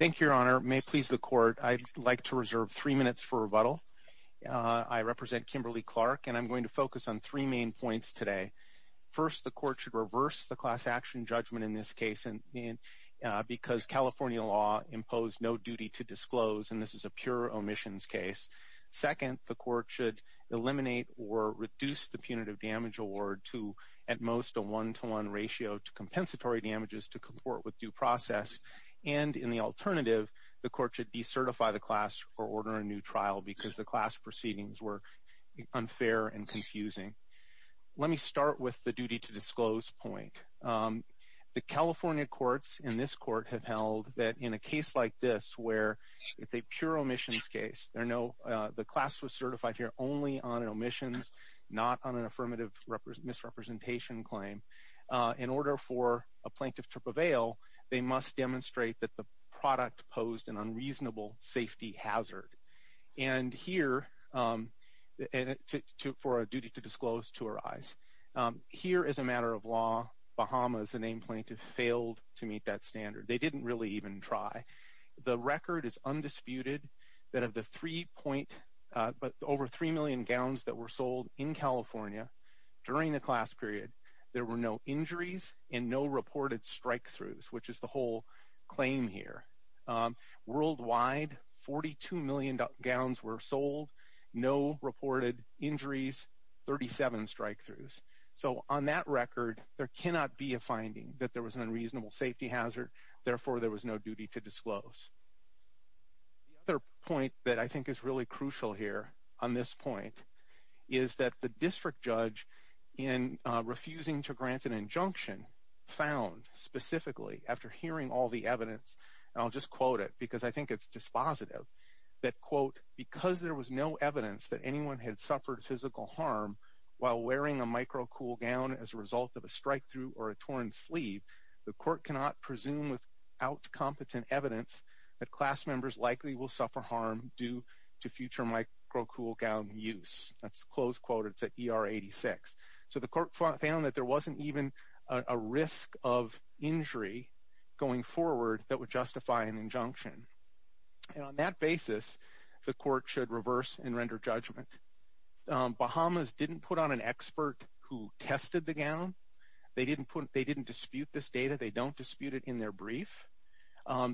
Thank you, Your Honor. May it please the Court, I'd like to reserve three minutes for rebuttal. I represent Kimberly-Clark and I'm going to focus on three main points today. First, the Court should reverse the class action judgment in this case because California law imposed no duty to disclose and this is a pure omissions case. Second, the Court should eliminate or reduce the punitive damage award to at most a one-to-one ratio to compensatory damages to comport with due process and in the alternative, the Court should decertify the class or order a new trial because the class proceedings were unfair and confusing. Let me start with the duty to disclose point. The California courts in this court have held that in a case like this where it's a pure omissions case, the class was certified only on omissions, not on an affirmative misrepresentation claim. In order for a plaintiff to prevail, they must demonstrate that the product posed an unreasonable safety hazard. And here, for a duty to disclose to arise. Here as a matter of law, Bahamas, the named plaintiff failed to meet that standard. They didn't really even try. The record is undisputed that of the three point, but over three million gowns that were sold in California during the class period, there were no injuries and no reported strikethroughs, which is the whole claim here. Worldwide, 42 million gowns were sold, no reported injuries, 37 strikethroughs. So on that record, there cannot be a finding that there was an unreasonable safety hazard, therefore there was no duty to disclose. The other point that I think is really crucial here on this point is that the district judge in refusing to grant an injunction found specifically after hearing all the evidence, and I'll just quote it because I think it's dispositive, that quote, because there was no evidence that anyone had suffered physical harm while wearing a micro cool gown as a result of a strikethrough or a torn sleeve, the court cannot presume without competent evidence that class members likely will suffer harm due to future micro cool gown use. That's close quoted to ER 86. So the court found that there wasn't even a risk of injury going forward that would justify an injunction. And on that basis, the court should reverse and render judgment. Bahamas didn't put on an expert who tested the gown. They didn't dispute this data. They don't dispute it in their brief.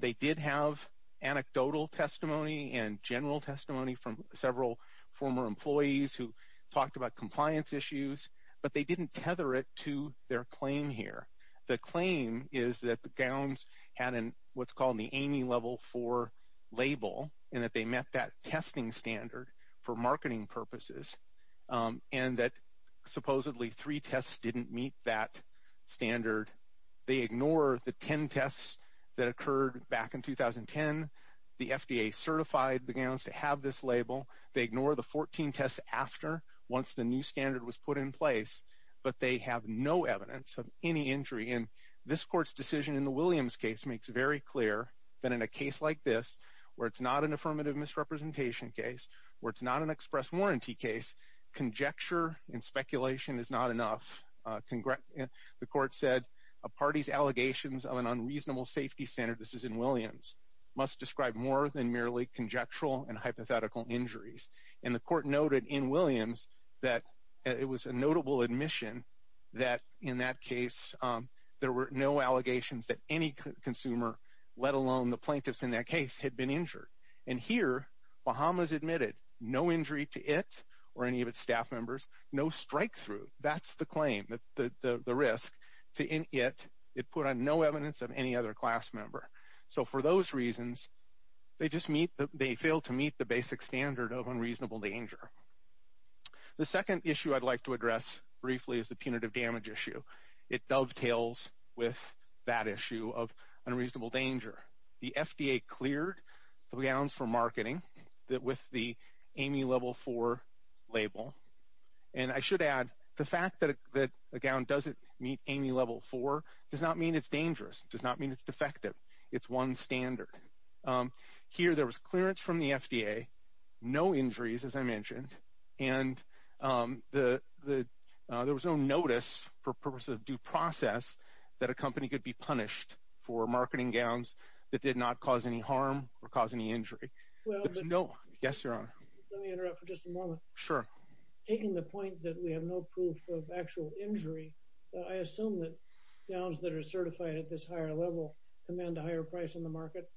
They did have anecdotal testimony and general testimony from several former employees who talked about compliance issues, but they didn't tether it to their claim here. The claim is that the gowns had what's called the Amy Level 4 label and that they met that testing standard for marketing purposes and that supposedly three tests didn't meet that standard. They ignore the 10 tests that occurred back in 2010. The FDA certified the gowns to have this label. They ignore the 14 tests after once the new standard was put in place, but they have no evidence of any injury. And this court's decision in the Williams case makes very clear that in a case like this, where it's not an affirmative misrepresentation case, where it's not an express warranty case, conjecture and speculation is not enough. The court said a party's allegations of an unreasonable safety standard, this is in Williams, must describe more than merely conjectural and hypothetical injuries. And the court noted in Williams that it was a notable admission that in that case there were no allegations that any consumer, let alone the case, had been injured. And here, Bahamas admitted no injury to it or any of its staff members, no strike through. That's the claim, the risk to it. It put on no evidence of any other class member. So for those reasons, they just meet, they fail to meet the basic standard of unreasonable danger. The second issue I'd like to address briefly is the punitive damage issue. It dovetails with that issue of unreasonable danger. The FDA cleared the gowns for marketing with the AMI Level 4 label. And I should add, the fact that a gown doesn't meet AMI Level 4 does not mean it's dangerous. It does not mean it's defective. It's one standard. Here there was clearance from the FDA, no injuries as I mentioned, and there was no notice for purposes of due process that a company could be punished for marketing gowns that did not cause any harm or cause any injury. Yes, Your Honor. Let me interrupt for just a moment. Sure. Taking the point that we have no proof of actual injury, I assume that gowns that are certified at this higher level command a higher price on the market?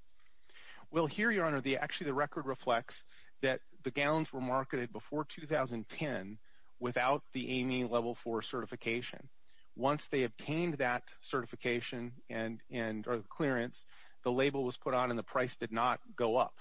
Well, here, Your Honor, actually the record reflects that the gowns were marketed before 2010 without the AMI Level 4 certification. Once they obtained that certification and or the clearance, the label was put on and the price did not go up.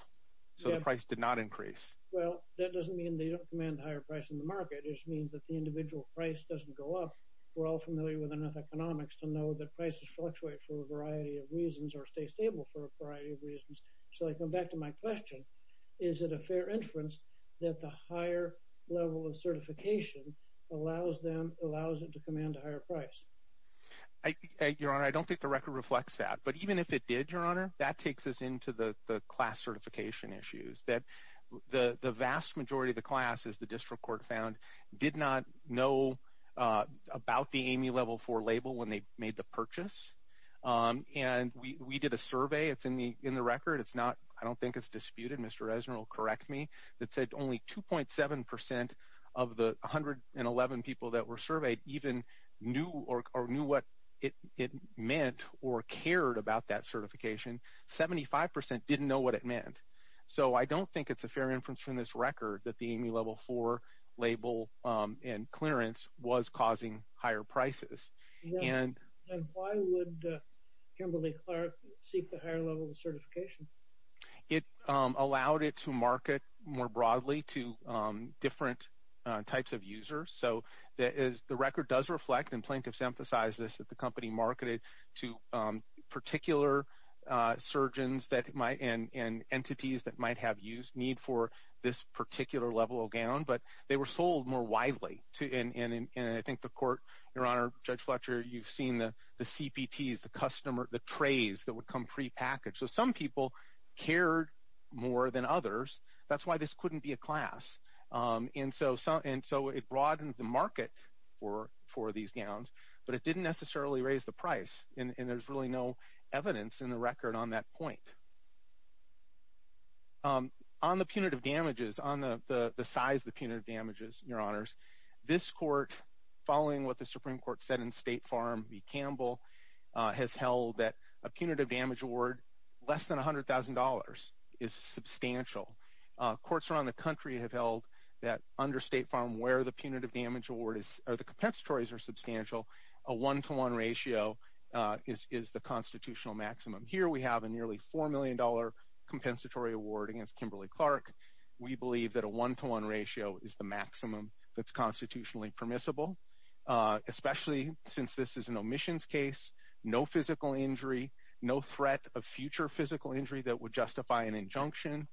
So the price did not increase. Well, that doesn't mean they don't command a higher price in the market. It just means that the individual price doesn't go up. We're all familiar with enough economics to know that prices fluctuate for a variety of reasons or stay stable for a variety of reasons. So I come back to my question. Is it a fair inference that a higher level of certification allows them allows it to command a higher price? Your Honor, I don't think the record reflects that. But even if it did, Your Honor, that takes us into the class certification issues that the vast majority of the classes the district court found did not know about the AMI Level 4 label when they made the purchase. And we did a survey. It's in the in the record. It's not I don't think it's disputed. Mr. Ezner will correct me. It said only 2.7 percent of the 111 people that were surveyed even knew or knew what it meant or cared about that certification. Seventy five percent didn't know what it meant. So I don't think it's a fair inference from this record that the AMI Level 4 label and clearance was causing higher prices. And why would Kimberly Clark seek the higher level of certification? It allowed it to market more broadly to different types of users. So that is the record does reflect and plaintiffs emphasize this that the company marketed to particular surgeons that might and entities that might have used need for this particular level of gown. But they were sold more widely. And I think the court, Your Honor, Judge Fletcher, you've seen the CPTs, the customer, the trays that would come prepackaged. So some people cared more than others. That's why this couldn't be a class. And so and so it broadens the market for for these gowns. But it didn't necessarily raise the price. And there's really no evidence in the record on that point. On the punitive damages on the size, the punitive damages, Your Honors, this court, following what the Supreme Court said in State Farm v. Campbell, has held that a punitive damage award less than $100,000 is substantial. Courts around the country have held that under State Farm, where the punitive damage award is, or the compensatories are substantial, a one to one ratio is the constitutional maximum. Here we have a nearly $4 million compensatory award against Kimberly Clark. We believe that a one to one ratio is the maximum that's constitutionally permissible, especially since this is an omissions case, no physical injury, no threat of future physical injury that would justify an injunction.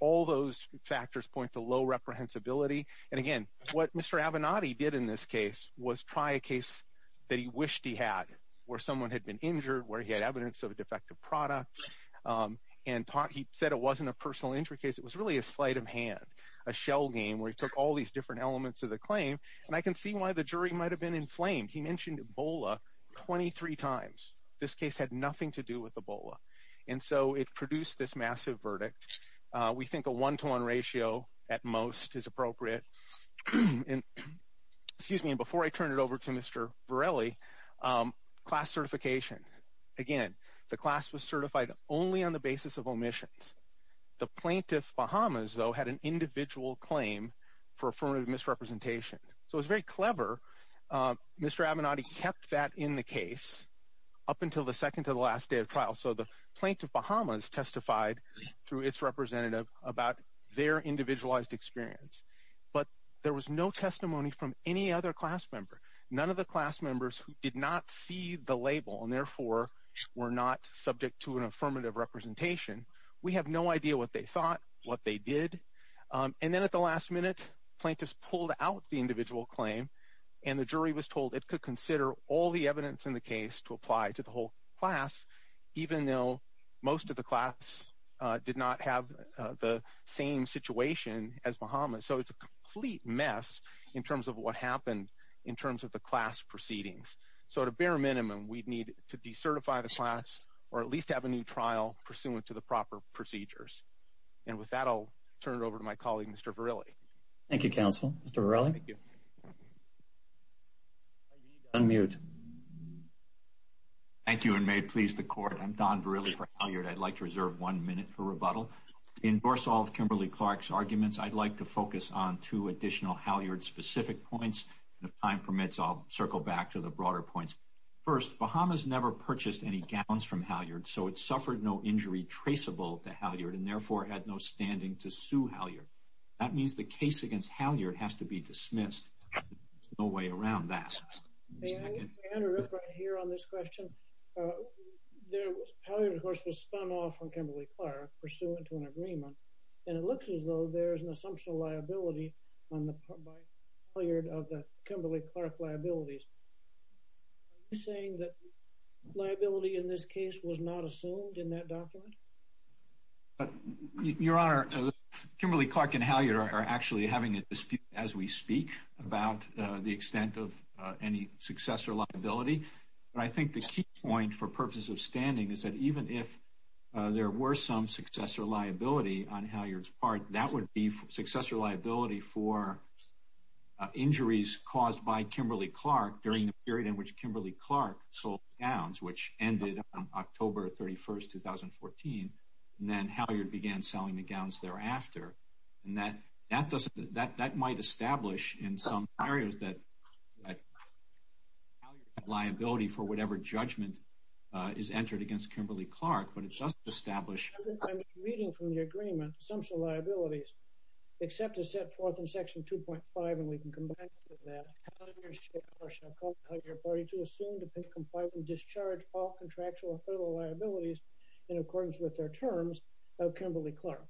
All those factors point to low reprehensibility. And again, what Mr. Avenatti did in this case was try a case that he wished he had, where someone had been injured, where he had evidence of a defective product. And he said it wasn't a personal injury case, it was really a sleight of hand, a shell game where he took all these different elements of the claim. And I can see why the jury might have been inflamed. He mentioned Ebola 23 times. This case had nothing to do with Ebola. And so it produced this massive verdict. We think a one to one ratio at most is appropriate. And, excuse me, before I turn it over to Mr. Varelli, class certification. Again, the class was certified only on the basis of omissions. The plaintiff Bahamas, though, had an individual claim for affirmative misrepresentation. So it was very clever. Mr. Avenatti kept that in the case up until the second to the last day of trial. So the plaintiff Bahamas testified through its representative about their individualized experience. But there was no testimony from any other class member. None of the class members who did not see the label and therefore were not subject to an affirmative representation. We have no idea what they thought, what they did. And then at the last minute, plaintiffs pulled out the individual claim and the jury was told it could consider all the evidence in the case to apply to the whole class, even though most of the class did not have the same situation as Bahamas. So it's a complete mess in terms of what happened in terms of the class proceedings. So at a bare minimum, we'd need to decertify the class or at least have a new trial pursuant to the proper procedures. And with that, I'll turn it over to my colleague, Mr. Varelli. Thank you, counsel. Mr. Varelli. Unmute. Thank you and may it please the court. I'm Don Varelli for Halyard. I'd like to reserve one minute for rebuttal. To endorse all of Kimberly-Clark's arguments, I'd like to focus on two additional Halyard-specific points. And if time permits, I'll circle back to the broader points. First, Bahamas never purchased any gowns from Halyard, so it suffered no injury traceable to Halyard and therefore had no standing to sue Halyard. That means the case against Halyard has to be dismissed. There's no way around that. May I interrupt right here on this question? Halyard, of course, was spun off from Kimberly-Clark pursuant to an agreement, and it looks as though there's an assumption of liability by Halyard of the Kimberly-Clark liabilities. Are you saying that liability in this case was not assumed in that document? Your Honor, Kimberly-Clark and Halyard are actually having a dispute as we speak about the extent of any successor liability. But I think the key point for purposes of standing is that even if there were some successor liability on Halyard's part, that would be successor liability for injuries caused by Kimberly-Clark during the period in which Kimberly-Clark sold gowns, which ended on October 31st, 2014, and then Halyard began selling the gowns thereafter. And that might establish in some areas that Halyard had liability for whatever judgment is entered against Kimberly-Clark, but it doesn't establish... I'm reading from the agreement. Assumption of liabilities, except to set forth in Section 2.5, and we can combine that, Halyard shall call the Halyard Party to assume, depend, comply, and discharge all contractual and federal liabilities in accordance with their terms of Kimberly-Clark.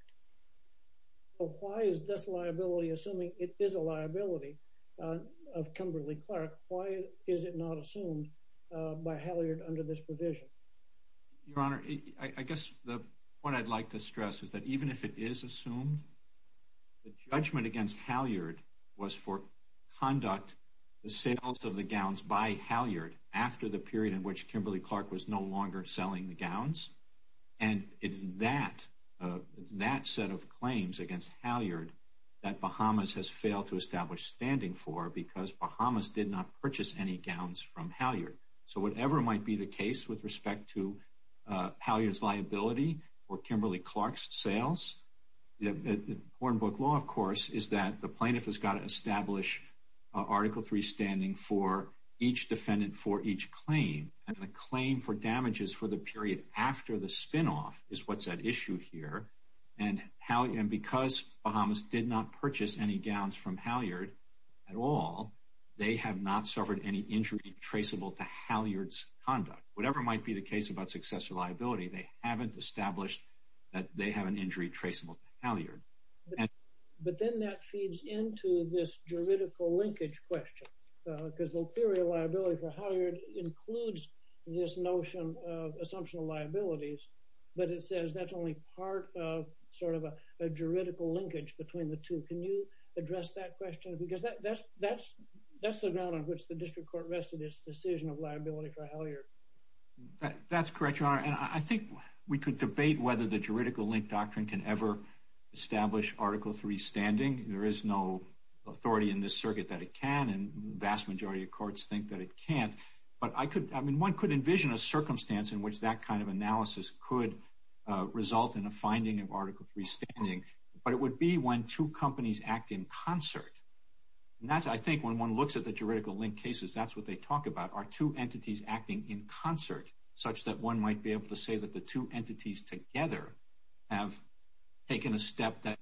But why is this liability assuming it is a liability of Kimberly-Clark? Why is it not assumed by Halyard under this provision? Your Honor, I guess the point I'd like to stress is that even if it is assumed, the judgment against Halyard was for conduct the sales of the gowns by Halyard after the period in which Kimberly-Clark was no longer selling the gowns. And it's that set of claims against Halyard that Bahamas has failed to establish standing for because Bahamas did not purchase any gowns Halyard. So whatever might be the case with respect to Halyard's liability for Kimberly-Clark's sales, the important book law, of course, is that the plaintiff has got to establish Article 3 standing for each defendant for each claim. And a claim for damages for the period after the spinoff is what's at issue here. And because Bahamas did not purchase any gowns from Halyard, it's not traceable to Halyard's conduct. Whatever might be the case about successor liability, they haven't established that they have an injury traceable to Halyard. But then that feeds into this juridical linkage question. Because the theory of liability for Halyard includes this notion of assumption of liabilities, but it says that's only part of sort of a juridical linkage between the two. Can you address that question? Because that's the ground on which the district court vested its decision of liability for Halyard. That's correct, Your Honor. And I think we could debate whether the juridical link doctrine can ever establish Article 3 standing. There is no authority in this circuit that it can, and the vast majority of courts think that it can't. But I mean, one could envision a circumstance in which that kind of analysis could result in a finding of Article 3 standing. But it would be when two entities acting in concert, such that one might be able to say that the two entities together have taken a step that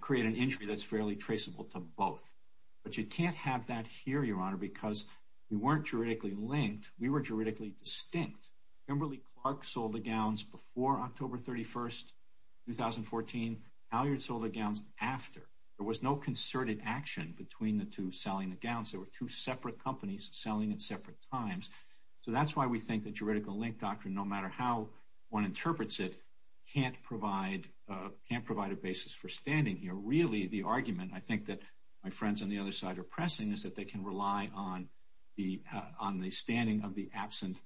create an injury that's fairly traceable to both. But you can't have that here, Your Honor, because we weren't juridically linked. We were juridically distinct. Kimberly-Clark sold the gowns before October 31st, 2014. Halyard sold the gowns after. There was no concerted action between the two selling the gowns. There were two separate companies selling at separate times. So that's why we think the juridical link doctrine, no matter how one interprets it, can't provide a basis for standing here. Really, the argument I think that my friends on the other side are pressing is that they can rely on the standing of the absent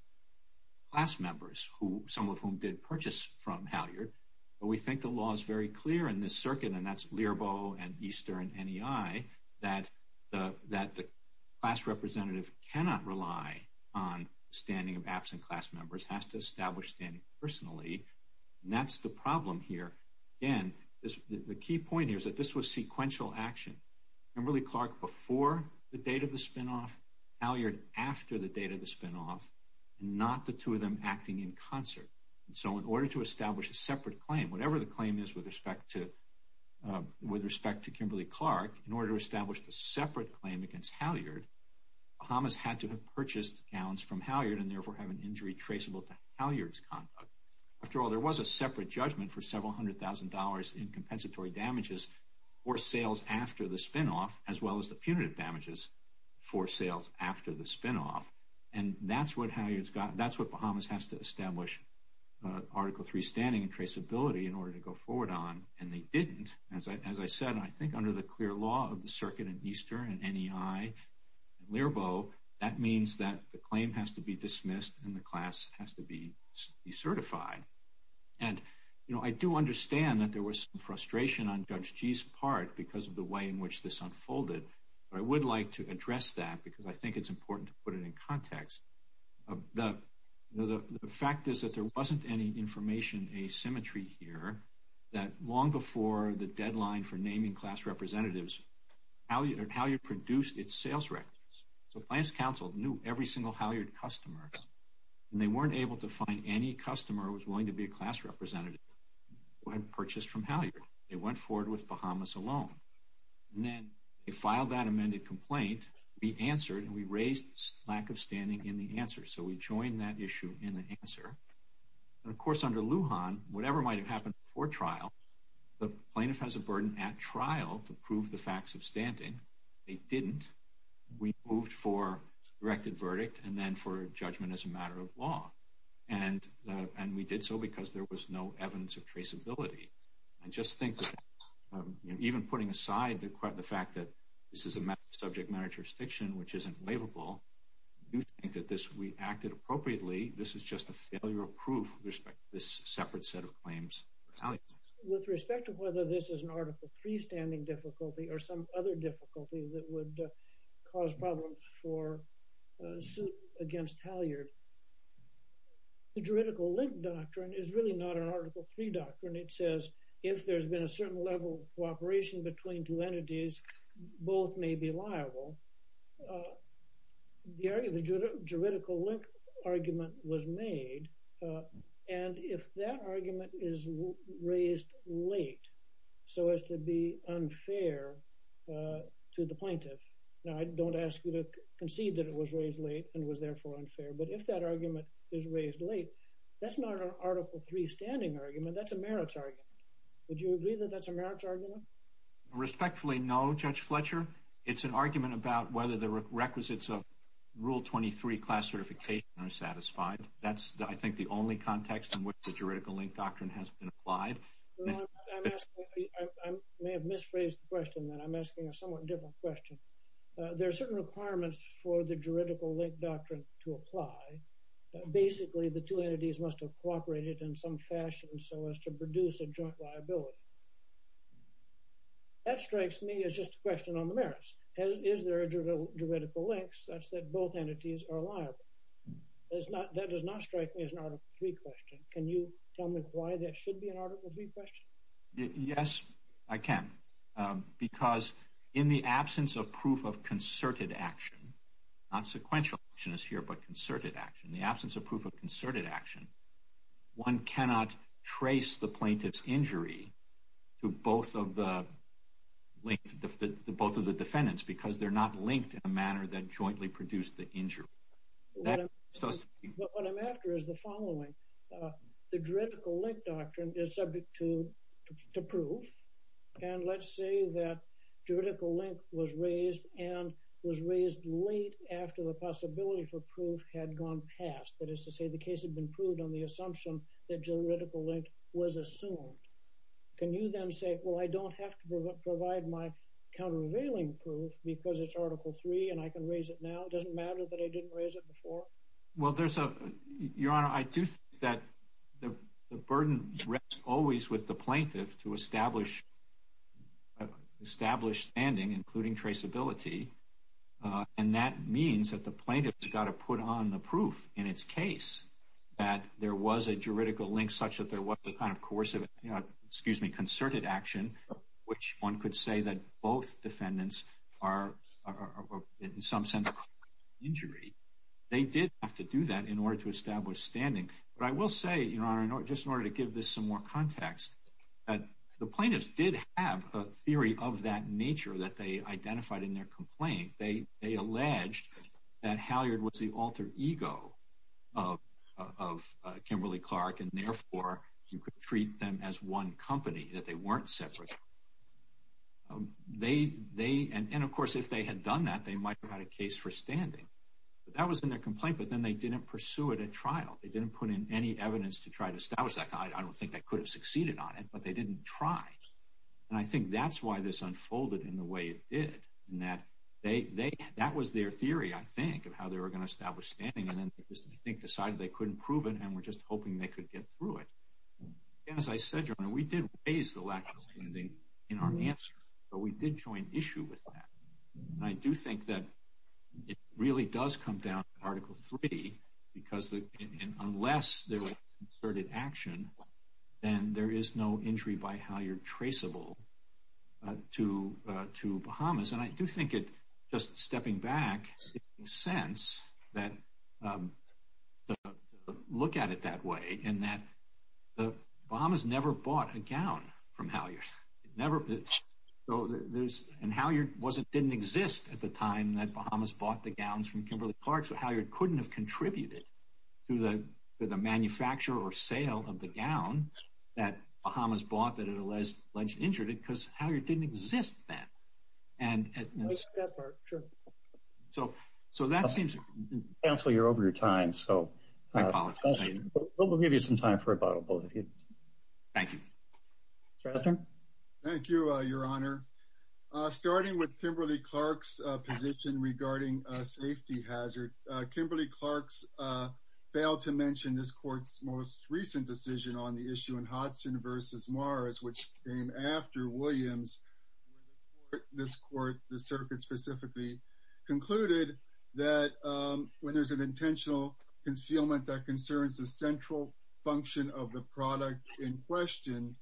class members, some of whom did purchase from Halyard. But we think the law is very clear in the circuit, and that's Learbo and Easter and NEI, that the class representative cannot rely on standing of absent class members, has to establish standing personally. And that's the problem here. Again, the key point here is that this was sequential action. Kimberly-Clark before the date of the spinoff, Halyard after the date of the spinoff, and not the two of them acting in concert. So in order to establish a separate claim, whatever the claim is with respect to Kimberly-Clark, in order to establish a separate claim against Halyard, Bahamas had to have purchased gowns from Halyard and therefore have an injury traceable to Halyard's conduct. After all, there was a separate judgment for several hundred thousand dollars in compensatory damages for sales after the spinoff, as well as the punitive damages for sales after the spinoff. And that's what Halyard's got. That's what Bahamas has to establish, Article III standing and traceability in order to go forward on. And they didn't. As I said, I think under the clear law of the circuit and Easter and NEI and Learbo, that means that the claim has to be dismissed and the class has to be certified. And, you know, I do understand that there was some frustration on Judge Gee's part because of the way in which this unfolded. But I would like to address that because I think it's important to put it in context. The fact is that there wasn't any information asymmetry here, that long before the deadline for naming class representatives, Halyard produced its sales records. So Plans Council knew every single Halyard customer and they weren't able to find any customer who was willing to be a class representative who had purchased from Halyard. They went forward with Bahamas alone. And then they filed that amended complaint, we answered, and we raised lack of standing in the answer. So we joined that issue in the answer. And of course, under Lujan, whatever might have happened before trial, the plaintiff has a burden at trial to prove the facts of standing. They didn't. We moved for directed verdict and then for judgment as a matter of law. And we did so because there was no evidence of traceability. I just think even putting aside the fact that this is a matter of subject matter jurisdiction, which isn't laveable, I do think that we acted appropriately. This is just a failure of proof with respect to this separate set of claims. With respect to whether this is an Article III standing difficulty or some other difficulty that would cause problems for suit against Halyard. The juridical link doctrine is really not an Article III doctrine. It says, if there's been a certain level of cooperation between two entities, both may be liable. The juridical link argument was made. And if that argument is raised late, so as to be unfair to the plaintiff. Now, I don't ask you to concede that it was raised late and was therefore unfair. But if that argument is raised late, that's not an Article III standing argument. That's a merits argument. Would you agree that that's a merits argument? Respectfully, no, Judge Fletcher. It's an argument about whether the requisites of Rule 23 class certification are satisfied. That's, I think, the only context in which the juridical link doctrine has been applied. I may have misphrased the question that I'm asking a somewhat different question. There are certain requirements for the juridical link doctrine to apply. Basically, the two entities must have cooperated in some fashion, so as to produce a joint liability. That strikes me as just a question on the merits. Is there a juridical link such that both entities are liable? That does not strike me as an Article III question. Can you tell me why that should be an Article III question? Yes, I can. Because in the absence of proof of concerted action, not sequential action is here, but concerted action, the absence of proof of concerted action, one cannot trace the plaintiff's injury to both of the defendants because they're not linked in a manner that jointly produced the injury. What I'm after is the following. The juridical link doctrine is subject to proof. Let's say that juridical link was raised and was raised late after the possibility for proof had gone past. That is to say, the case had been proved on the assumption that juridical link was assumed. Can you then say, well, I don't have to provide my countervailing proof because it's Article III and I can raise it now? It doesn't matter that I didn't raise it before? Your Honor, I do think that the burden rests always with the plaintiff to establish standing, including traceability. That means that the plaintiff has got to put on the proof in its case that there was a juridical link such that there was a kind of concerted action, which one could say that both defendants are in some sense injured. They did have to do that in order to establish standing. But I will say, Your Honor, just in order to give this some more context, that the plaintiffs did have a theory of that nature that they identified in their complaint. They alleged that Halyard was the alter ego of Kimberly-Clark and therefore you could treat them as one company, that they weren't separate. And of course, if they had done that, they might have had a case for standing. But that was in their complaint, but then they didn't pursue it at trial. They didn't put in any evidence to try to establish that. I don't think they could have succeeded on it, but they didn't try. And I think that's why this unfolded in the way it did. And that was their theory, I think, of how they were going to establish standing. And then they decided they couldn't prove it and were just hoping they could get through it. As I said, Your Honor, we did raise the lack of standing in our answer, but we did join issue with that. And I do think that it really does come down to Article 3, because unless there was concerted action, then there is no injury by Halyard traceable to Bahamas. And I do think it, just stepping back, makes sense to look at it that way, in that Bahamas never bought a gown from Halyard. And Halyard didn't exist at the time that Bahamas bought the gowns from Kimberly Clark, so Halyard couldn't have contributed to the manufacture or sale of the gown that Bahamas bought that it alleged injured it, because Halyard didn't exist then. And so that seems to cancel your over your time. So we'll give you some time for a bottle both of you. Thank you. Thank you, Your Honor. Starting with Kimberly Clark's position regarding a safety hazard. Kimberly Clark's failed to mention this court's most recent decision on the issue in the circuit specifically concluded that when there's an intentional concealment that concerns the central function of the product in question,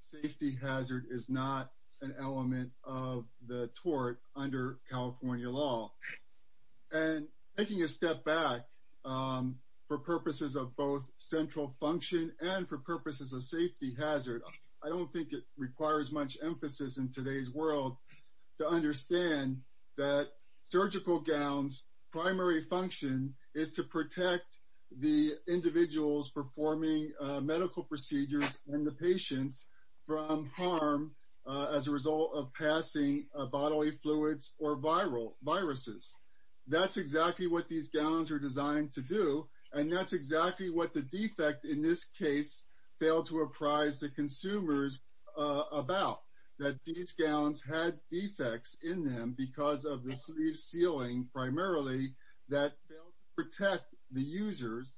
safety hazard is not an element of the tort under California law. And taking a step back for purposes of both central function and for understand that surgical gowns primary function is to protect the individuals performing medical procedures and the patients from harm as a result of passing bodily fluids or viral viruses. That's exactly what these gowns are designed to do. And that's exactly what the defect in this case failed to apprise the consumers about that these gowns had defects in them because of the ceiling primarily that protect the users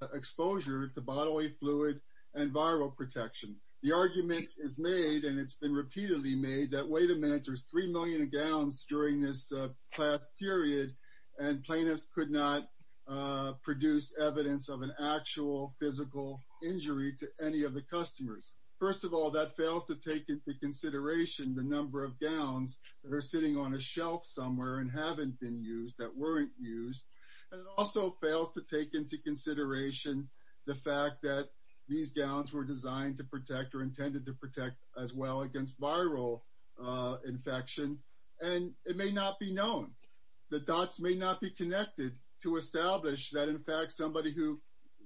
and the patient from exposure to bodily fluid and viral protection. The argument is made and it's been repeatedly made that wait a minute, there's 3 million gowns during this past period. And plaintiffs could not produce evidence of an actual physical injury to any of the customers. First of all, that fails to take into consideration the number of gowns that are sitting on a shelf somewhere and haven't been used that weren't used. And it also fails to take into consideration the fact that these gowns were designed to protect or intended to protect as well against viral infection. And it may not be known. The dots may not be connected to establish that in fact, somebody who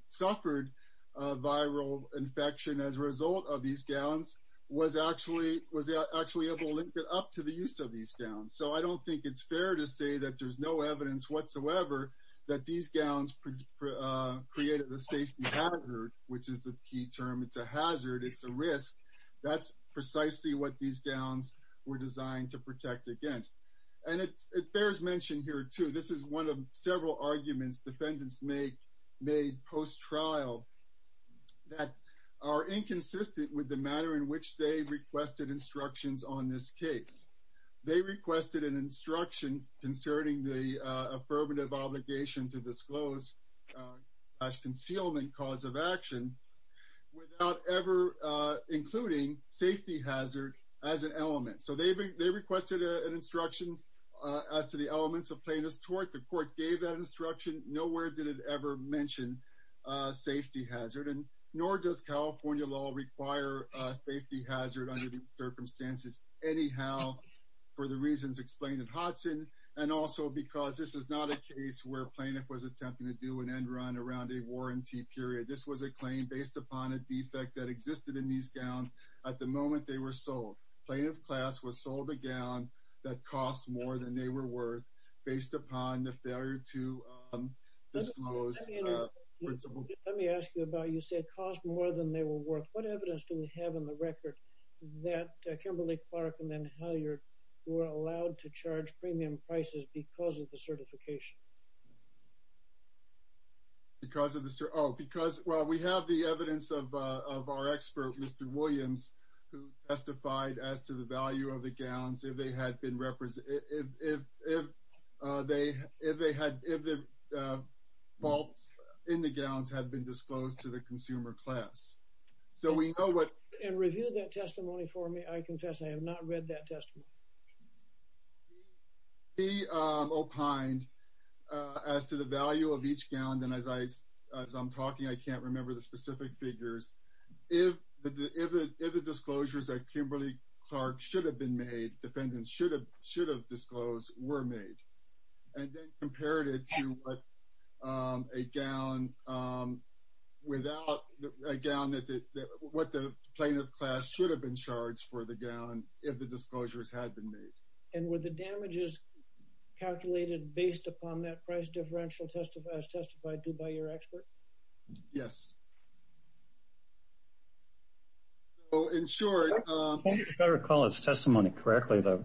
suffered a viral infection as a result of these gowns was actually able to link it up to the use of these gowns. So I don't think it's fair to say that there's no evidence whatsoever that these gowns created the safety hazard, which is the key term. It's a hazard. It's a risk. That's precisely what these gowns were designed to protect against. And it bears mention here too. This is one of several arguments defendants make made post-trial that are inconsistent with the manner in which they requested instructions on this case. They requested an instruction concerning the affirmative obligation to disclose as concealment cause of action without ever including safety hazard as an element. So they requested an instruction as to the elements of plaintiff's tort. The court gave that instruction. Nowhere did it ever mention safety hazard and nor does California law require a safety hazard under the circumstances. Anyhow, for the reasons explained in Hodson, and also because this is not a case where plaintiff was attempting to do an end run around a warranty period. This was a claim based upon a defect that existed in these gowns at the moment they were sold. Plaintiff class was sold a gown that costs more than they were worth based upon the failure to disclose. Let me ask you about you said cost more than they were worth. What evidence do we have in the record that Kimberly Clark and then Halyard were allowed to charge premium prices because of the certification? Because of the, oh, because, well, we have the evidence of our expert, Mr. Williams, who testified as to the value of the gowns if they had been represented, if they had, if the vaults in the gowns had been disclosed to the consumer class. So we know what. And review that testimony for me. I confess I have not read that testimony. He opined as to the value of each gown. And as I, as I'm talking, I can't remember the specific figures. If the disclosures that Kimberly Clark should have been made, defendants should have disclosed, were made. And then compared it to a gown without, a gown that, what the plaintiff class should have been charged for the gown if the disclosures had been made. And were the damages calculated based upon that price differential testifies, testified to by your expert? Yes. So in short. If I recall his testimony correctly, though,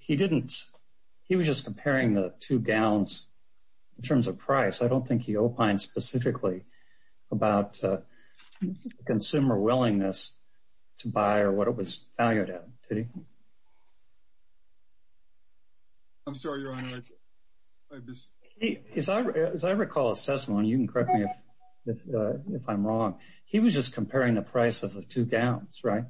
he didn't, he was just comparing the two gowns in terms of price. I don't think he opined specifically about consumer willingness to buy or what it was valued at. I'm sorry, Your Honor. As I recall his testimony, you can correct me if I'm wrong. He was just comparing the price of the two gowns, right?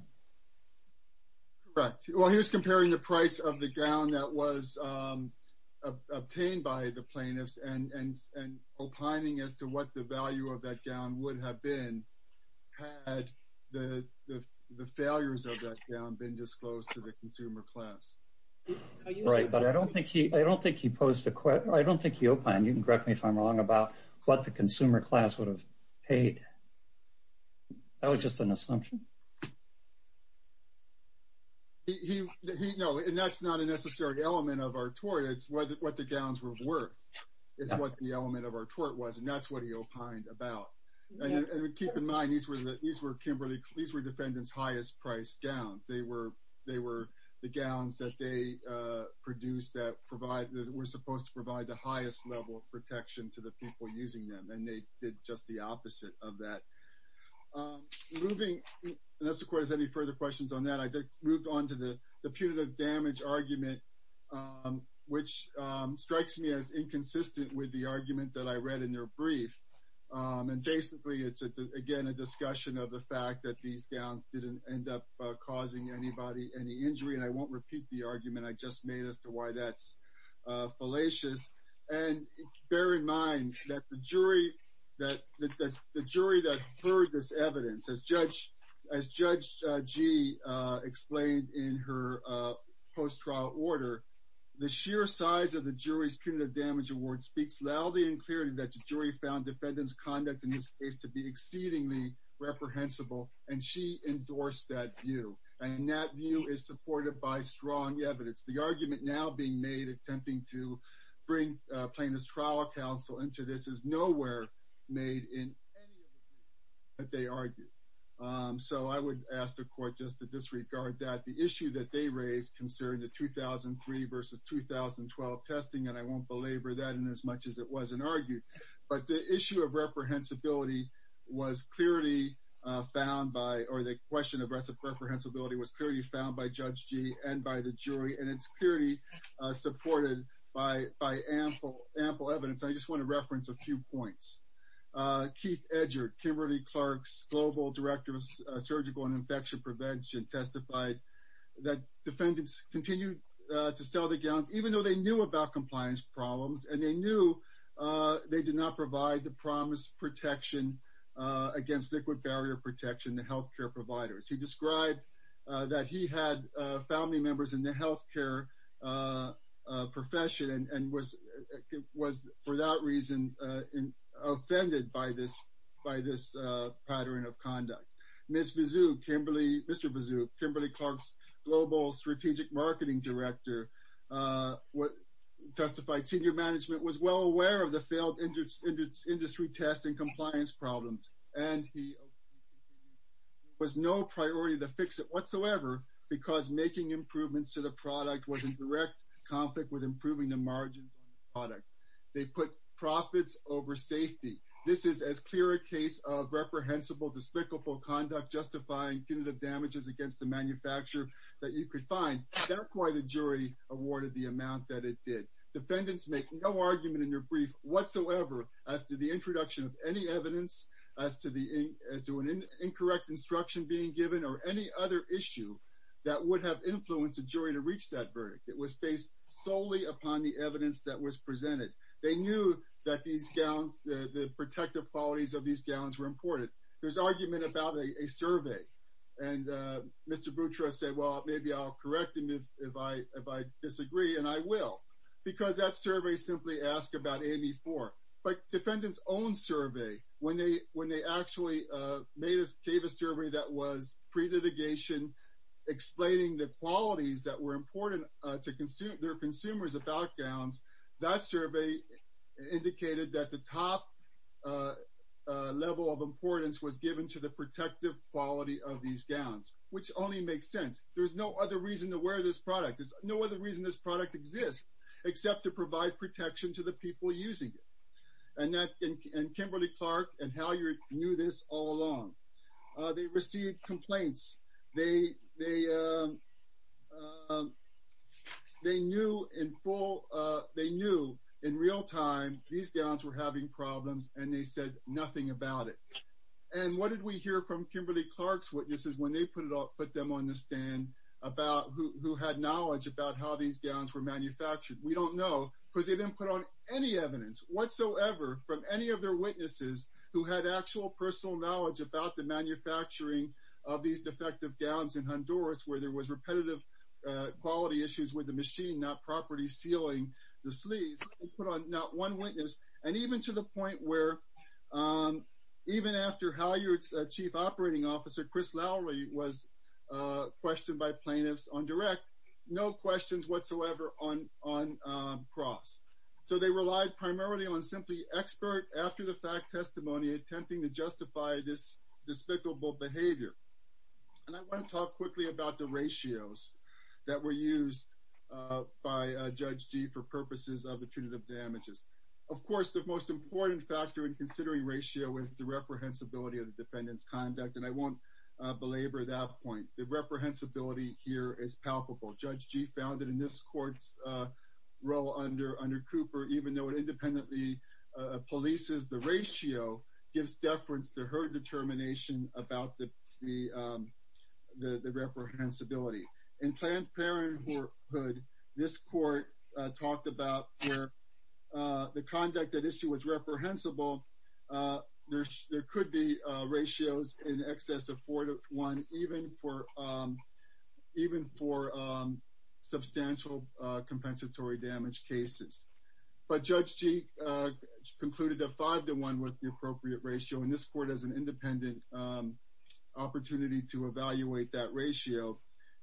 Correct. Well, he was comparing the price of the gown that was obtained by the plaintiffs and opining as to what the value of that gown would have been had the failures of that gown been disclosed to the consumer class. Right. But I don't think he, I don't think he posed a question. I don't think he opined. You can correct me if I'm wrong about what the consumer class would have paid. That was just an assumption. He, no, and that's not a necessary element of our tort. It's what the gowns were is what the element of our tort was. And that's what he opined about. And keep in mind, these were the, these were Kimberly, these were defendant's highest price gowns. They were, they were the gowns that they produced that provide, that were supposed to provide the highest level of protection to the people using them. And they did just the opposite of that. Moving, unless the court has any further questions on that, I moved on to the punitive damage argument, which strikes me as inconsistent with the argument that I read in their brief. And basically it's again, a discussion of the fact that these gowns didn't end up causing anybody any injury. And I won't repeat the argument I just made as to why that's fallacious. And bear in mind that the jury, that the jury that heard this evidence as judge, as judge G explained in her post-trial order, the sheer size of the jury's punitive damage award speaks loudly and clearly that the jury found defendant's conduct in this case to be exceedingly reprehensible. And she endorsed that view. And that view is supported by strong evidence. The argument now being made, attempting to bring plaintiff's trial counsel into this is nowhere made in any of the briefs that they argued. So I would ask the court just to disregard that. The issue that they raised concerning the 2003 versus 2012 testing, and I won't belabor that in as much as it wasn't argued, but the issue of reprehensibility was clearly found by, or the question of reprehensibility was clearly found by judge G and by the jury. And it's clearly supported by, by ample, ample evidence. I just want to reference a few points. Keith Edgert, Kimberly Clark's global director of surgical and infection prevention testified that defendants continued to sell the gowns, even though they knew about compliance problems and they knew they did not provide the promise protection against liquid barrier protection to healthcare providers. He described that he had family members in the healthcare profession and was, for that reason, offended by this pattern of conduct. Ms. Bazook, Kimberly, Mr. Bazook, Kimberly Clark's global strategic marketing director testified senior management was well aware of the failed industry testing compliance problems. And he was no priority to fix it whatsoever because making improvements to the product was in direct conflict with improving the margins on the product. They put profits over safety. This is as clear a case of reprehensible, despicable conduct, justifying punitive damages against the manufacturer that you could find. That's why the jury awarded the amount that it did. Defendants make no argument in their brief whatsoever as to the introduction of any evidence, as to an incorrect instruction being given or any other issue that would have influenced a jury to reach that verdict. It was based solely upon the evidence that was presented. They knew that these gowns, the protective qualities of these gowns were important. There's argument about a survey and Mr. Boutros said, well, maybe I'll correct him if I disagree. And I will, because that survey simply asked about AME-4. But defendants' own survey, when they actually gave a survey that was pre-litigation, explaining the qualities that were important to their consumers about gowns, that survey indicated that the top level of importance was given to the protective quality of these gowns, which only makes sense. There's no other reason to wear this product. There's no other reason this product exists except to provide protection to the people using it. And Kimberly Clark and Halyard knew this all along. They received complaints. They knew in real time these gowns were having problems and they said nothing about it. And what did we hear from Kimberly Clark's witnesses when they put them on the stand about who had knowledge about how these gowns were manufactured? We don't know, because they didn't put on any evidence whatsoever from any of their witnesses who had actual personal knowledge about the manufacturing of these defective gowns in Honduras, where there was repetitive quality issues with the machine, not property sealing the sleeves. They put on not one witness. And even to the point where, even after Halyard's chief operating officer, Chris Lowry, was questioned by plaintiffs on direct, no questions whatsoever on cross. So, they relied primarily on simply expert after-the-fact testimony attempting to justify this despicable behavior. And I want to talk quickly about the ratios that were used by Judge Gee for purposes of the punitive damages. Of course, the most important factor in considering ratio is the reprehensibility of the defendant's conduct. And I won't belabor that point. The reprehensibility here is palpable. Judge Gee found that in this court's role under Cooper, even though it independently polices the ratio, gives deference to her determination about the reprehensibility. In Planned Parenthood, this court talked about where the conduct at issue was reprehensible. There could be ratios in excess of 4 to 1, even for substantial compensatory damage cases. But Judge Gee concluded a 5 to 1 with the appropriate ratio. And this court has an independent opportunity to evaluate that ratio.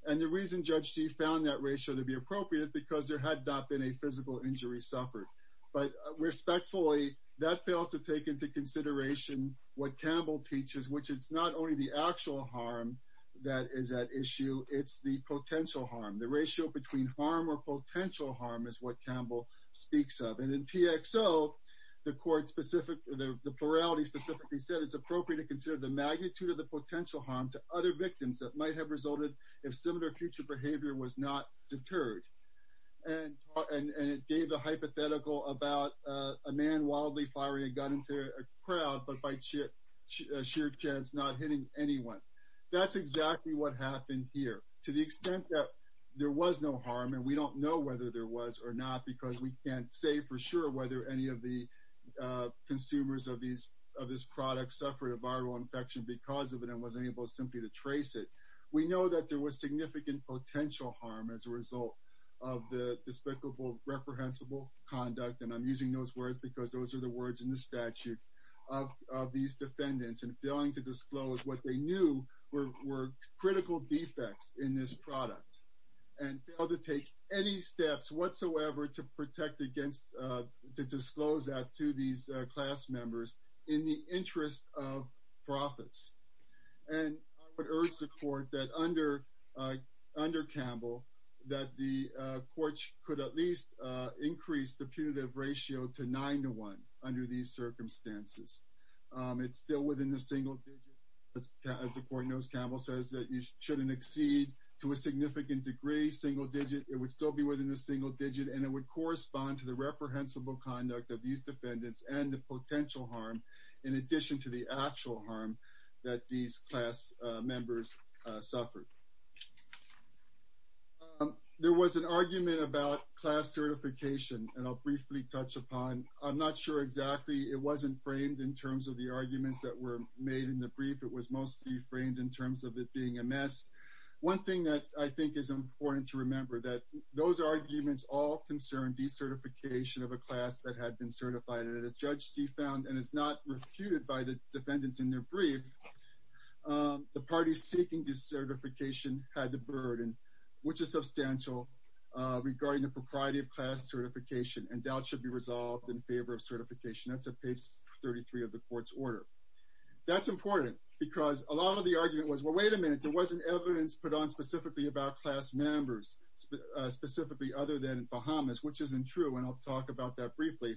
And the reason Judge Gee found that ratio to be appropriate is because there had not been physical injury suffered. But respectfully, that fails to take into consideration what Campbell teaches, which is not only the actual harm that is at issue, it's the potential harm. The ratio between harm or potential harm is what Campbell speaks of. And in TXO, the plurality specifically said it's appropriate to consider the magnitude of the potential harm to other victims that might have resulted if similar future behavior was not deterred. And it gave a hypothetical about a man wildly fiery and got into a crowd but by sheer chance not hitting anyone. That's exactly what happened here. To the extent that there was no harm, and we don't know whether there was or not because we can't say for sure whether any of the consumers of this product suffered a viral infection because of it and wasn't able simply to trace it, we know that there was significant potential harm as a result of the despicable, reprehensible conduct. And I'm using those words because those are the words in the statute of these defendants and failing to disclose what they knew were critical defects in this product and failed to take any steps whatsoever to protect to disclose that to these class members in the interest of profits. And I would urge the court that under Campbell that the court could at least increase the punitive ratio to nine to one under these circumstances. It's still within the single digit. As the court knows, Campbell says that you shouldn't exceed to a significant degree single digit. It would still be within the single digit and it would correspond to the reprehensible conduct of these defendants and the potential harm in addition to the actual harm that these class members suffered. There was an argument about class certification and I'll briefly touch upon. I'm not sure exactly. It wasn't framed in terms of the arguments that were made in the brief. It was mostly framed in terms of it being a mess. One thing that I think is important to remember that those arguments all concern decertification of a class that had been certified and as Judge D found and is not refuted by the defendants in their brief, the parties seeking decertification had the burden, which is substantial regarding the propriety of class certification and doubt should be resolved in favor of certification. That's at page 33 of the court's order. That's important because a lot of the argument was, well, wait a minute. There wasn't evidence put on specifically about class members, specifically other than Bahamas, which isn't true. And I'll talk about that briefly,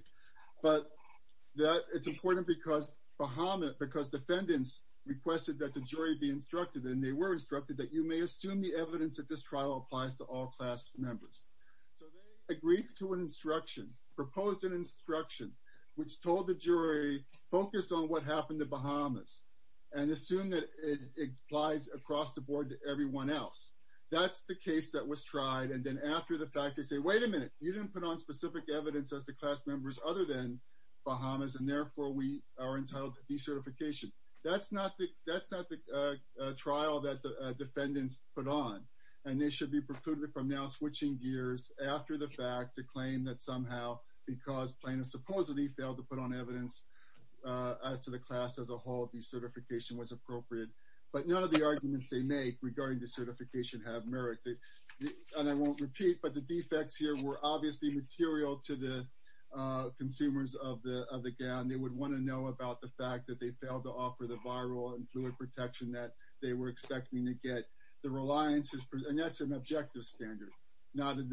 but that it's important because Bahamas, because defendants requested that the jury be instructed and they were instructed that you may assume the evidence that this trial applies to all class members. So they agreed to an instruction, proposed an instruction, which told the jury focus on what happened to Bahamas and assume that it applies across the board to everyone else. That's the case that was tried. And then after the fact, they say, wait a minute, you didn't put on specific evidence as the class members other than Bahamas. And therefore we are entitled to decertification. That's not the trial that the defendants put on, and they should be precluded from now switching gears after the fact to claim that somehow because plaintiffs supposedly failed to put on evidence as to the class as a whole, decertification was appropriate. But none of the arguments they make regarding decertification have merit. And I won't repeat, but the defects here were obviously material to the consumers of the gown. They would want to know about the fact that they failed to offer the viral and fluid protection that they were expecting to get. The reliance is, and that's an objective standard, not a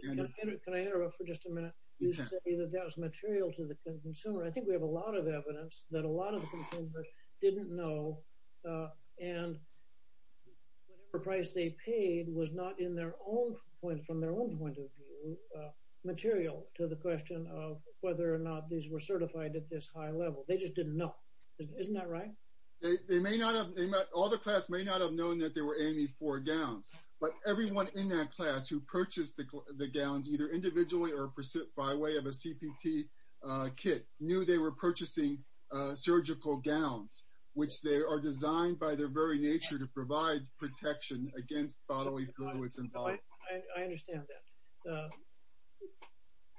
standard. Can I interrupt for just a minute? You said that was material to the consumer. I think we have a lot of evidence that a lot of the consumers didn't know and whatever price they paid was not in their own point, from their own point of view, material to the question of whether or not these were certified at this high level. They just didn't know. Isn't that right? They may not have, all the class may not have known that there were any four gowns, but everyone in that class who purchased the gowns either individually or by way of a CPT kit knew they were purchasing surgical gowns, which they are designed by their very nature to provide protection against bodily fluids. I understand that.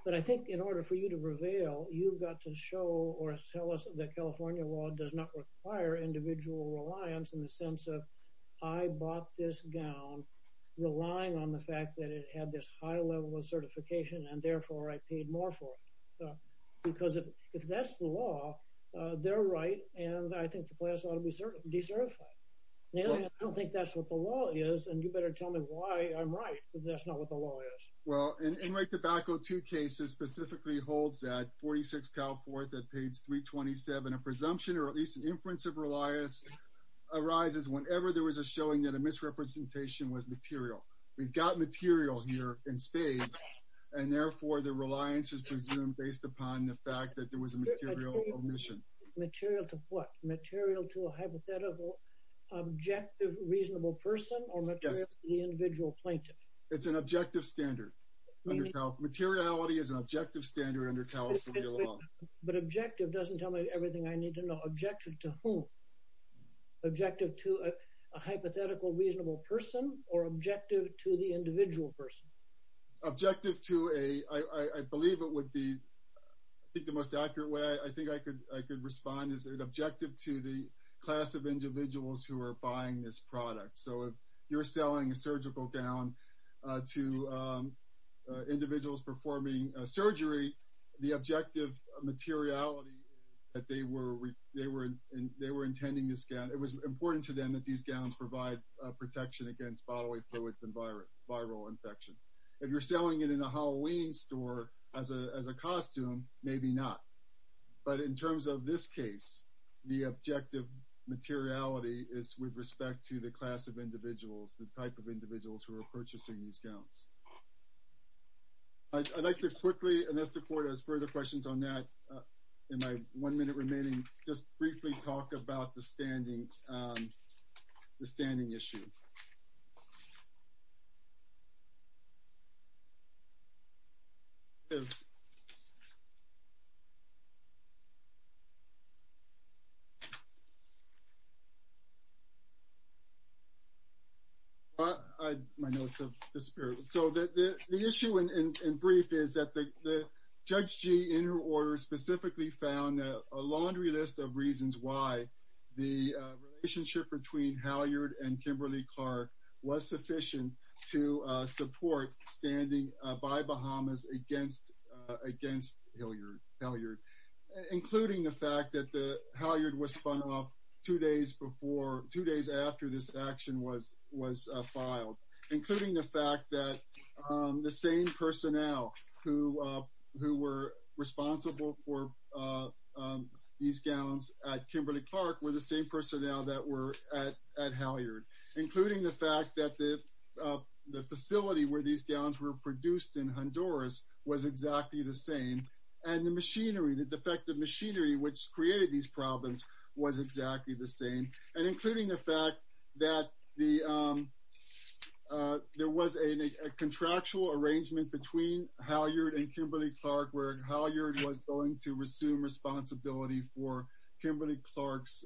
But I think in order for you to reveal, you've got to show or tell us that California law does not require individual reliance in the sense of I bought this gown, relying on the fact that it had this high level of certification, and therefore I paid more for it. Because if that's the law, they're right. And I think the class ought to be decertified. I don't think that's what the law is. And you better tell me why I'm right. But that's not what the law is. Well, Enriched Tobacco, two cases specifically holds that 46 Cal Forth at page 327, a presumption or at least an inference of reliance arises whenever there was a showing that a misrepresentation was material. We've got material here in spades, and therefore the reliance is presumed based upon the fact that there was a material omission. Material to what? Material to a hypothetical, objective, reasonable person or material to the individual plaintiff? It's an objective standard. Materiality is an objective standard under California law. But objective doesn't tell me everything I need to know. Objective to whom? Objective to a hypothetical, reasonable person or objective to the individual person? Objective to a, I believe it would be, I think the most accurate way I think I could respond is an objective to the class of individuals who are buying this product. So if you're selling a surgical gown to individuals performing surgery, the objective materiality that they were intending to scan, it was important to them that these gowns provide protection against bodily fluids and viral infection. If you're selling it in a Halloween store as a costume, maybe not. But in terms of this case, the objective materiality is with respect to the class of individuals, the type of individuals who are purchasing these gowns. I'd like to quickly, unless the court has further questions on that, in my one minute remaining, just briefly talk about the standing issue. So the issue in brief is that Judge G, in her order, specifically found a laundry list of the relationship between Halyard and Kimberly-Clark was sufficient to support standing by Bahamas against Halyard, including the fact that the Halyard was spun off two days before, two days after this action was filed, including the fact that the same personnel who were responsible for these gowns at Kimberly-Clark were the same personnel that were at Halyard, including the fact that the facility where these gowns were produced in Honduras was exactly the same, and the machinery, the defective machinery which created these problems was exactly the same, and including the fact that there was a contractual arrangement between Halyard and Kimberly-Clark where Halyard was going to resume responsibility for Kimberly-Clark's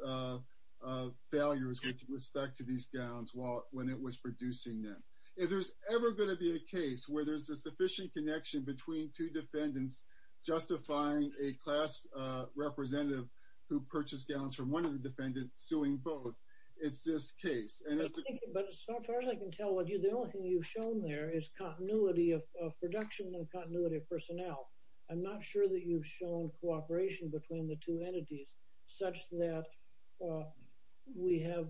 failures with respect to these gowns when it was producing them. If there's ever going to be a case where there's a sufficient connection between two defendants justifying a class representative who purchased gowns from one of the defendants suing both, it's this case. But as far as I can tell, the only thing you've shown there is continuity of production and continuity of personnel. I'm not sure that you've shown cooperation between the two entities such that we have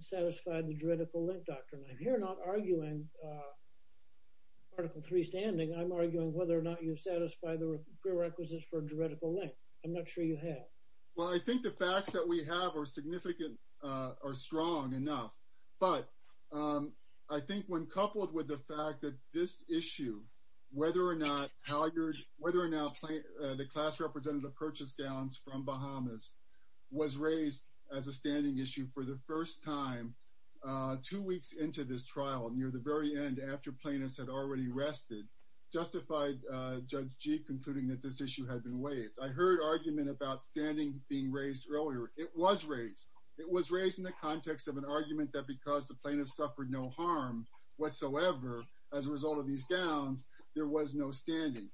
satisfied the juridical link doctrine. I'm here not arguing Article 3 standing. I'm arguing whether or not you've satisfied the prerequisites for juridical link. I'm not sure you have. Well, I think the facts that we have are significant, are strong enough. But I think when coupled with the fact that this issue, whether or not the class representative purchased gowns from Bahamas was raised as a standing issue for the first time two weeks into this trial, near the very end after plaintiffs had already rested, justified Judge Gee concluding that this issue had been waived. I heard argument about standing being raised earlier. It was raised. It was raised in the context of an argument that because the plaintiffs suffered no harm whatsoever as a result of these gowns, there was no standing.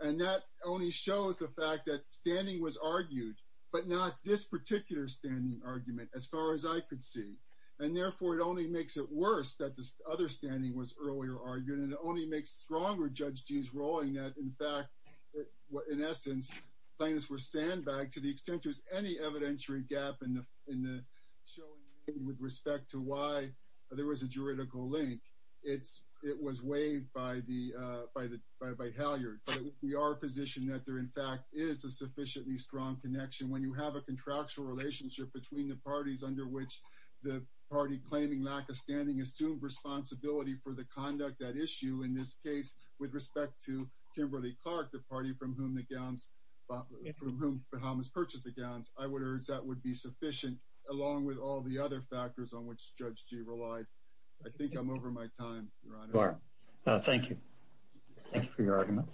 And that only shows the fact that standing was argued, but not this particular standing argument as far as I could see. And therefore, it only makes it worse that this other standing was earlier argued. And it only makes stronger Judge Gee's ruling that, in fact, in essence, plaintiffs were to the extent there's any evidentiary gap in the showing with respect to why there was a juridical link, it was waived by Halyard. But we are positioned that there, in fact, is a sufficiently strong connection when you have a contractual relationship between the parties under which the party claiming lack of standing assumed responsibility for the conduct that issue, in this case, with respect to Kimberly Clark, the party from whom Bahamas purchased the gowns. I would urge that would be sufficient along with all the other factors on which Judge Gee relied. I think I'm over my time, Your Honor. Thank you. Thank you for your argument.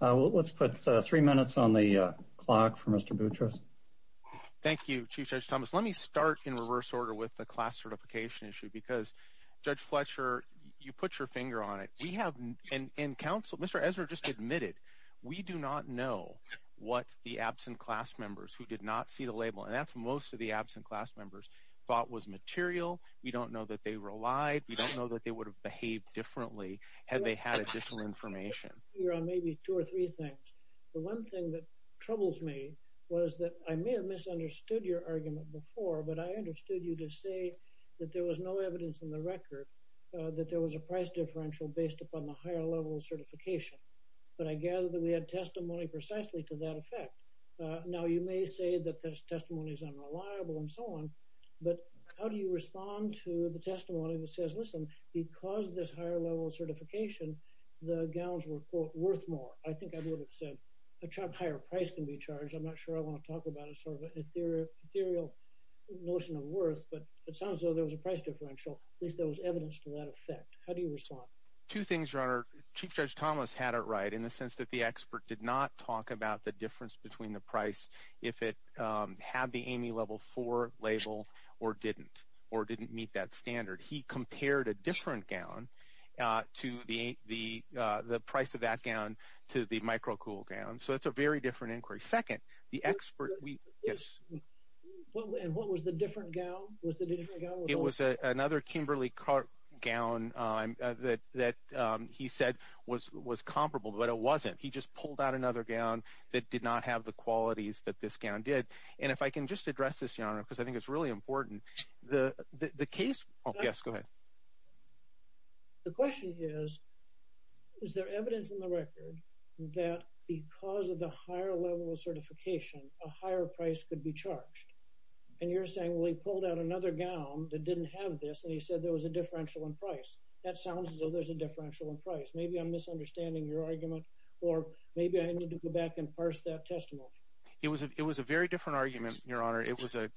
Let's put three minutes on the clock for Mr. Boutros. Thank you, Chief Judge Thomas. Let me start in reverse order with the class certification issue because, Judge Fletcher, you put your finger on it. We have, and counsel, Mr. Ezra just admitted, we do not know what the absent class members who did not see the label, and that's what most of the absent class members thought was material. We don't know that they relied. We don't know that they would have behaved differently had they had additional information. You're on maybe two or three things. The one thing that troubles me was that I may have understood your argument before, but I understood you to say that there was no evidence in the record that there was a price differential based upon the higher level of certification, but I gather that we had testimony precisely to that effect. Now, you may say that this testimony is unreliable and so on, but how do you respond to the testimony that says, listen, because this higher level of certification, the gowns were, quote, worth more? I think I would have said higher price can be charged. I'm not sure I want to talk about a sort of ethereal notion of worth, but it sounds as though there was a price differential, at least there was evidence to that effect. How do you respond? Two things, Your Honor. Chief Judge Thomas had it right in the sense that the expert did not talk about the difference between the price if it had the AIME Level 4 label or didn't, or didn't meet that standard. He compared a different gown to the price of that gown to the micro-cool gown, so it's a very different inquiry. Second, the expert, yes. And what was the different gown? It was another Kimberly-Kart gown that he said was comparable, but it wasn't. He just pulled out another gown that did not have the qualities that this gown did, and if I can just address this, Your Honor, because I think it's really important. The case, yes, go ahead. The question is, is there evidence in the record that because of the higher level of certification, a higher price could be charged? And you're saying, well, he pulled out another gown that didn't have this, and he said there was a differential in price. That sounds as though there's a differential in price. Maybe I'm misunderstanding your argument, or maybe I need to go back and parse that testimony. It was a very different argument, Your Honor. It was a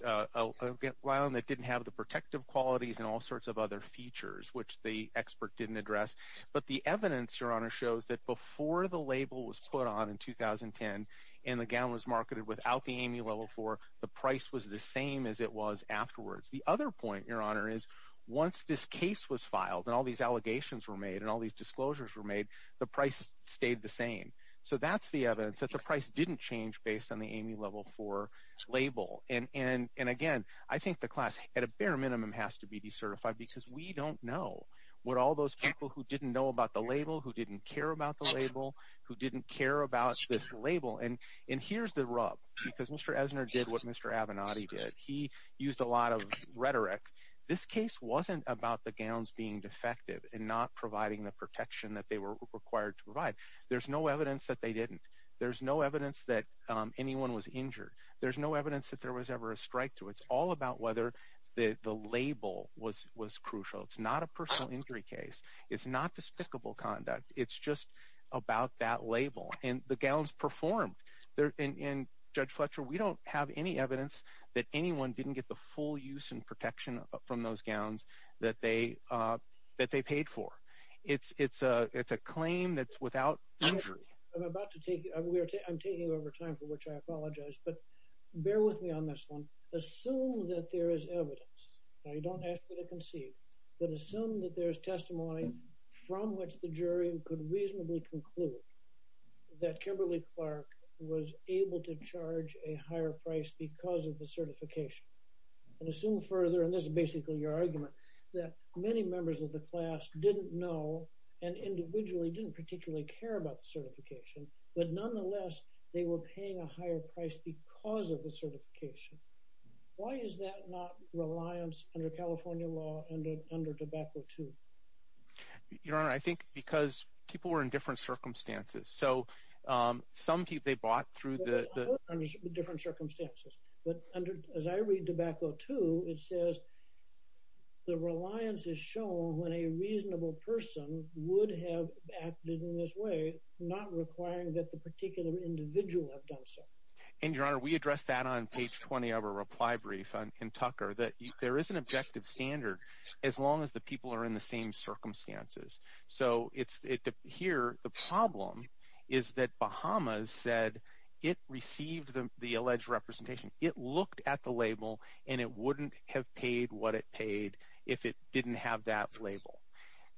gown that didn't have the protective qualities and all sorts of other features, which the expert didn't address. But the evidence, Your Honor, shows that before the label was put on in 2010, and the gown was marketed without the AME Level 4, the price was the same as it was afterwards. The other point, Your Honor, is once this case was filed, and all these allegations were made, and all these disclosures were made, the price stayed the same. So that's evidence that the price didn't change based on the AME Level 4 label. And again, I think the class at a bare minimum has to be decertified, because we don't know what all those people who didn't know about the label, who didn't care about the label, who didn't care about this label. And here's the rub, because Mr. Esner did what Mr. Avenatti did. He used a lot of rhetoric. This case wasn't about the gowns being defective and not providing the protection that they were There's no evidence that anyone was injured. There's no evidence that there was ever a strikethrough. It's all about whether the label was crucial. It's not a personal injury case. It's not despicable conduct. It's just about that label. And the gowns performed. Judge Fletcher, we don't have any evidence that anyone didn't get the full use and protection from those gowns that they paid for. It's a claim that's without injury. I'm about to take, I'm taking over time for which I apologize, but bear with me on this one. Assume that there is evidence. Now, you don't have to concede, but assume that there's testimony from which the jury could reasonably conclude that Kimberly Clark was able to charge a higher price because of the certification. And assume further, and this is basically your argument, that many members of the class didn't know and individually didn't particularly care about the certification, but nonetheless, they were paying a higher price because of the certification. Why is that not reliance under California law and under tobacco too? Your Honor, I think because people were in different circumstances. So, some people, they bought through the different circumstances. But as I read tobacco too, it says the reliance is shown when a reasonable person would have acted in this way, not requiring that the particular individual have done so. And Your Honor, we addressed that on page 20 of our reply brief in Tucker, that there is an objective standard as long as the people are in the same circumstances. So, here, the problem is that Bahamas said it received the alleged representation. It looked at the label and it wouldn't have paid what it paid if it didn't have that label.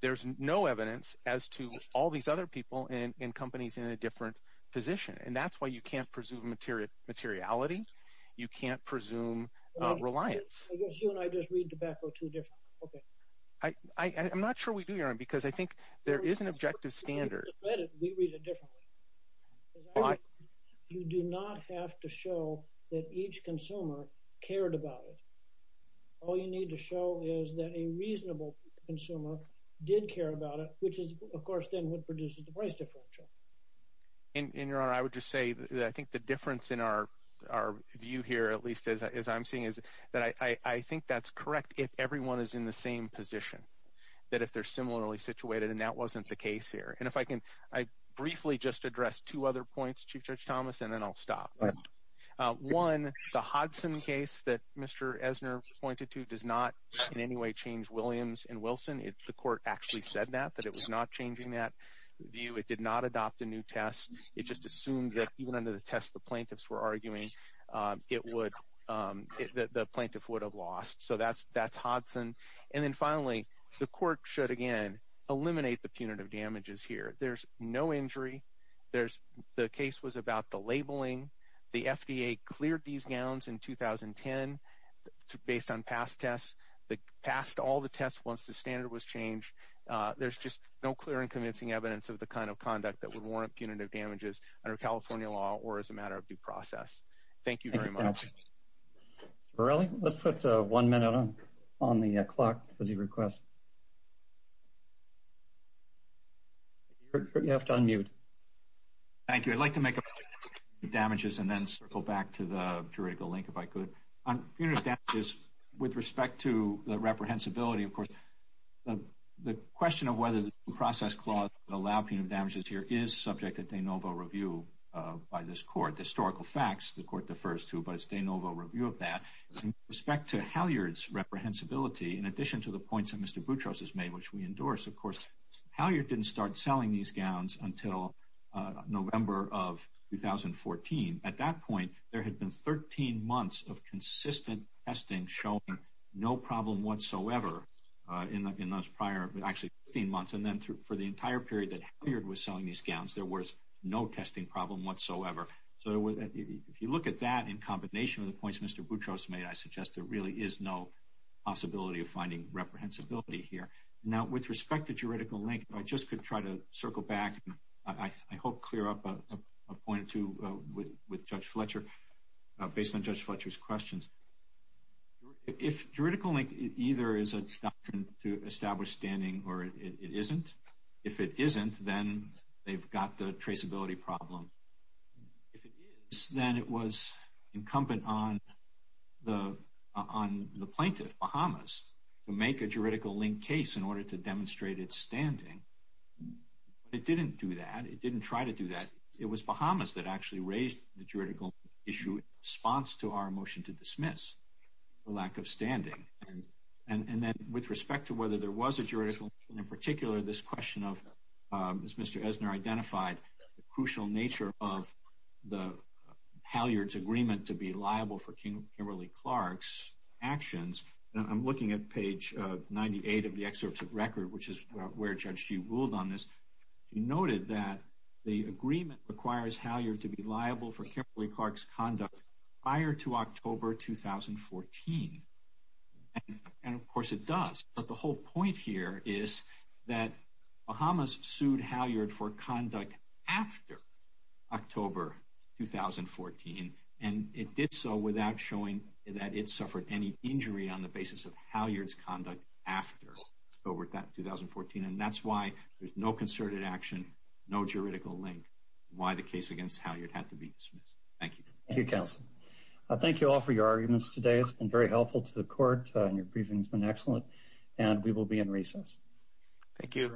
There's no evidence as to all these other people and companies in a different position. And that's why you can't presume materiality. You can't presume reliance. I guess you and I just read tobacco too different. Okay. I'm not sure we do, Your Honor, because I think there is an objective standard. We read it differently. You do not have to show that each consumer cared about it. All you need to show is that a reasonable consumer did care about it, which is, of course, then what produces the price differential. And Your Honor, I would just say that I think the difference in our view here, at least as I'm seeing, is that I think that's correct if everyone is in the same position, that if they're similarly situated, and that wasn't the case here. And if I can, I briefly just address two other points, Chief Judge Thomas, and then I'll stop. One, the Hodson case that Mr. Esner pointed to does not in any way change Williams and Wilson. The court actually said that, that it was not changing that view. It did not adopt a new test. It just assumed that even under the test the plaintiffs were arguing, the plaintiff would have lost. So that's Hodson. And then finally, the court should, again, eliminate the punitive damages here. There's no injury. The case was about the labeling. The FDA cleared these gowns in 2010 based on past tests. They passed all the tests once the standard was changed. There's just no clear and convincing evidence of the kind of conduct that would warrant punitive damages under California law or as a matter of due process. Thank you very much. Mr. Morelli, let's put one minute on the clock as you request. You have to unmute. Thank you. I'd like to make a point about punitive damages and then circle back to the juridical link if I could. On punitive damages, with respect to the reprehensibility, of course, the question of whether the process clause would allow punitive damages here is subject to de novo review by this court. The historical facts, the court defers to, but it's de novo review of that. With respect to Halyard's reprehensibility, in addition to the points that Mr. Boutros has made, which we endorse, of course, Halyard didn't start selling these gowns until November of 2014. At that point, there had been 13 months of consistent testing showing no problem whatsoever in those prior, actually, 15 months. And then for the entire period that Halyard was selling these gowns, there was no testing problem whatsoever. So, if you look at that in combination with the points Mr. Boutros made, I suggest there really is no possibility of finding reprehensibility here. Now, with respect to juridical link, if I just could try to circle back, and I hope clear up a point or two with Judge Fletcher, based on Judge Fletcher's questions. If juridical link either is a doctrine to establish standing, or it isn't. If it isn't, then they've got the traceability problem. If it is, then it was incumbent on the plaintiff, Bahamas, to make a juridical link case in order to demonstrate its standing. But it didn't do that. It didn't try to do that. It was Bahamas that actually raised the juridical issue in response to our motion to dismiss the lack of standing. And then, with respect to whether there was a juridical link in particular, this question of, as Mr. Esner identified, the crucial nature of Halyard's agreement to be liable for Kimberly Clark's actions. I'm looking at page 98 of the excerpts of record, which is where Judge G ruled on this. He noted that the agreement requires Halyard to be liable for Kimberly Clark's conduct prior to October 2014. And, of course, it does. But the whole point here is that Bahamas sued Halyard for conduct after October 2014. And it did so without showing that it suffered any injury on the basis of Halyard's conduct after October 2014. And that's why there's no concerted action, no juridical link, why the case against Halyard had to be dismissed. Thank you. Thank you, counsel. Thank you all for your arguments today. It's been very helpful to the court, and your briefing's been excellent. And we will be in recess. Thank you.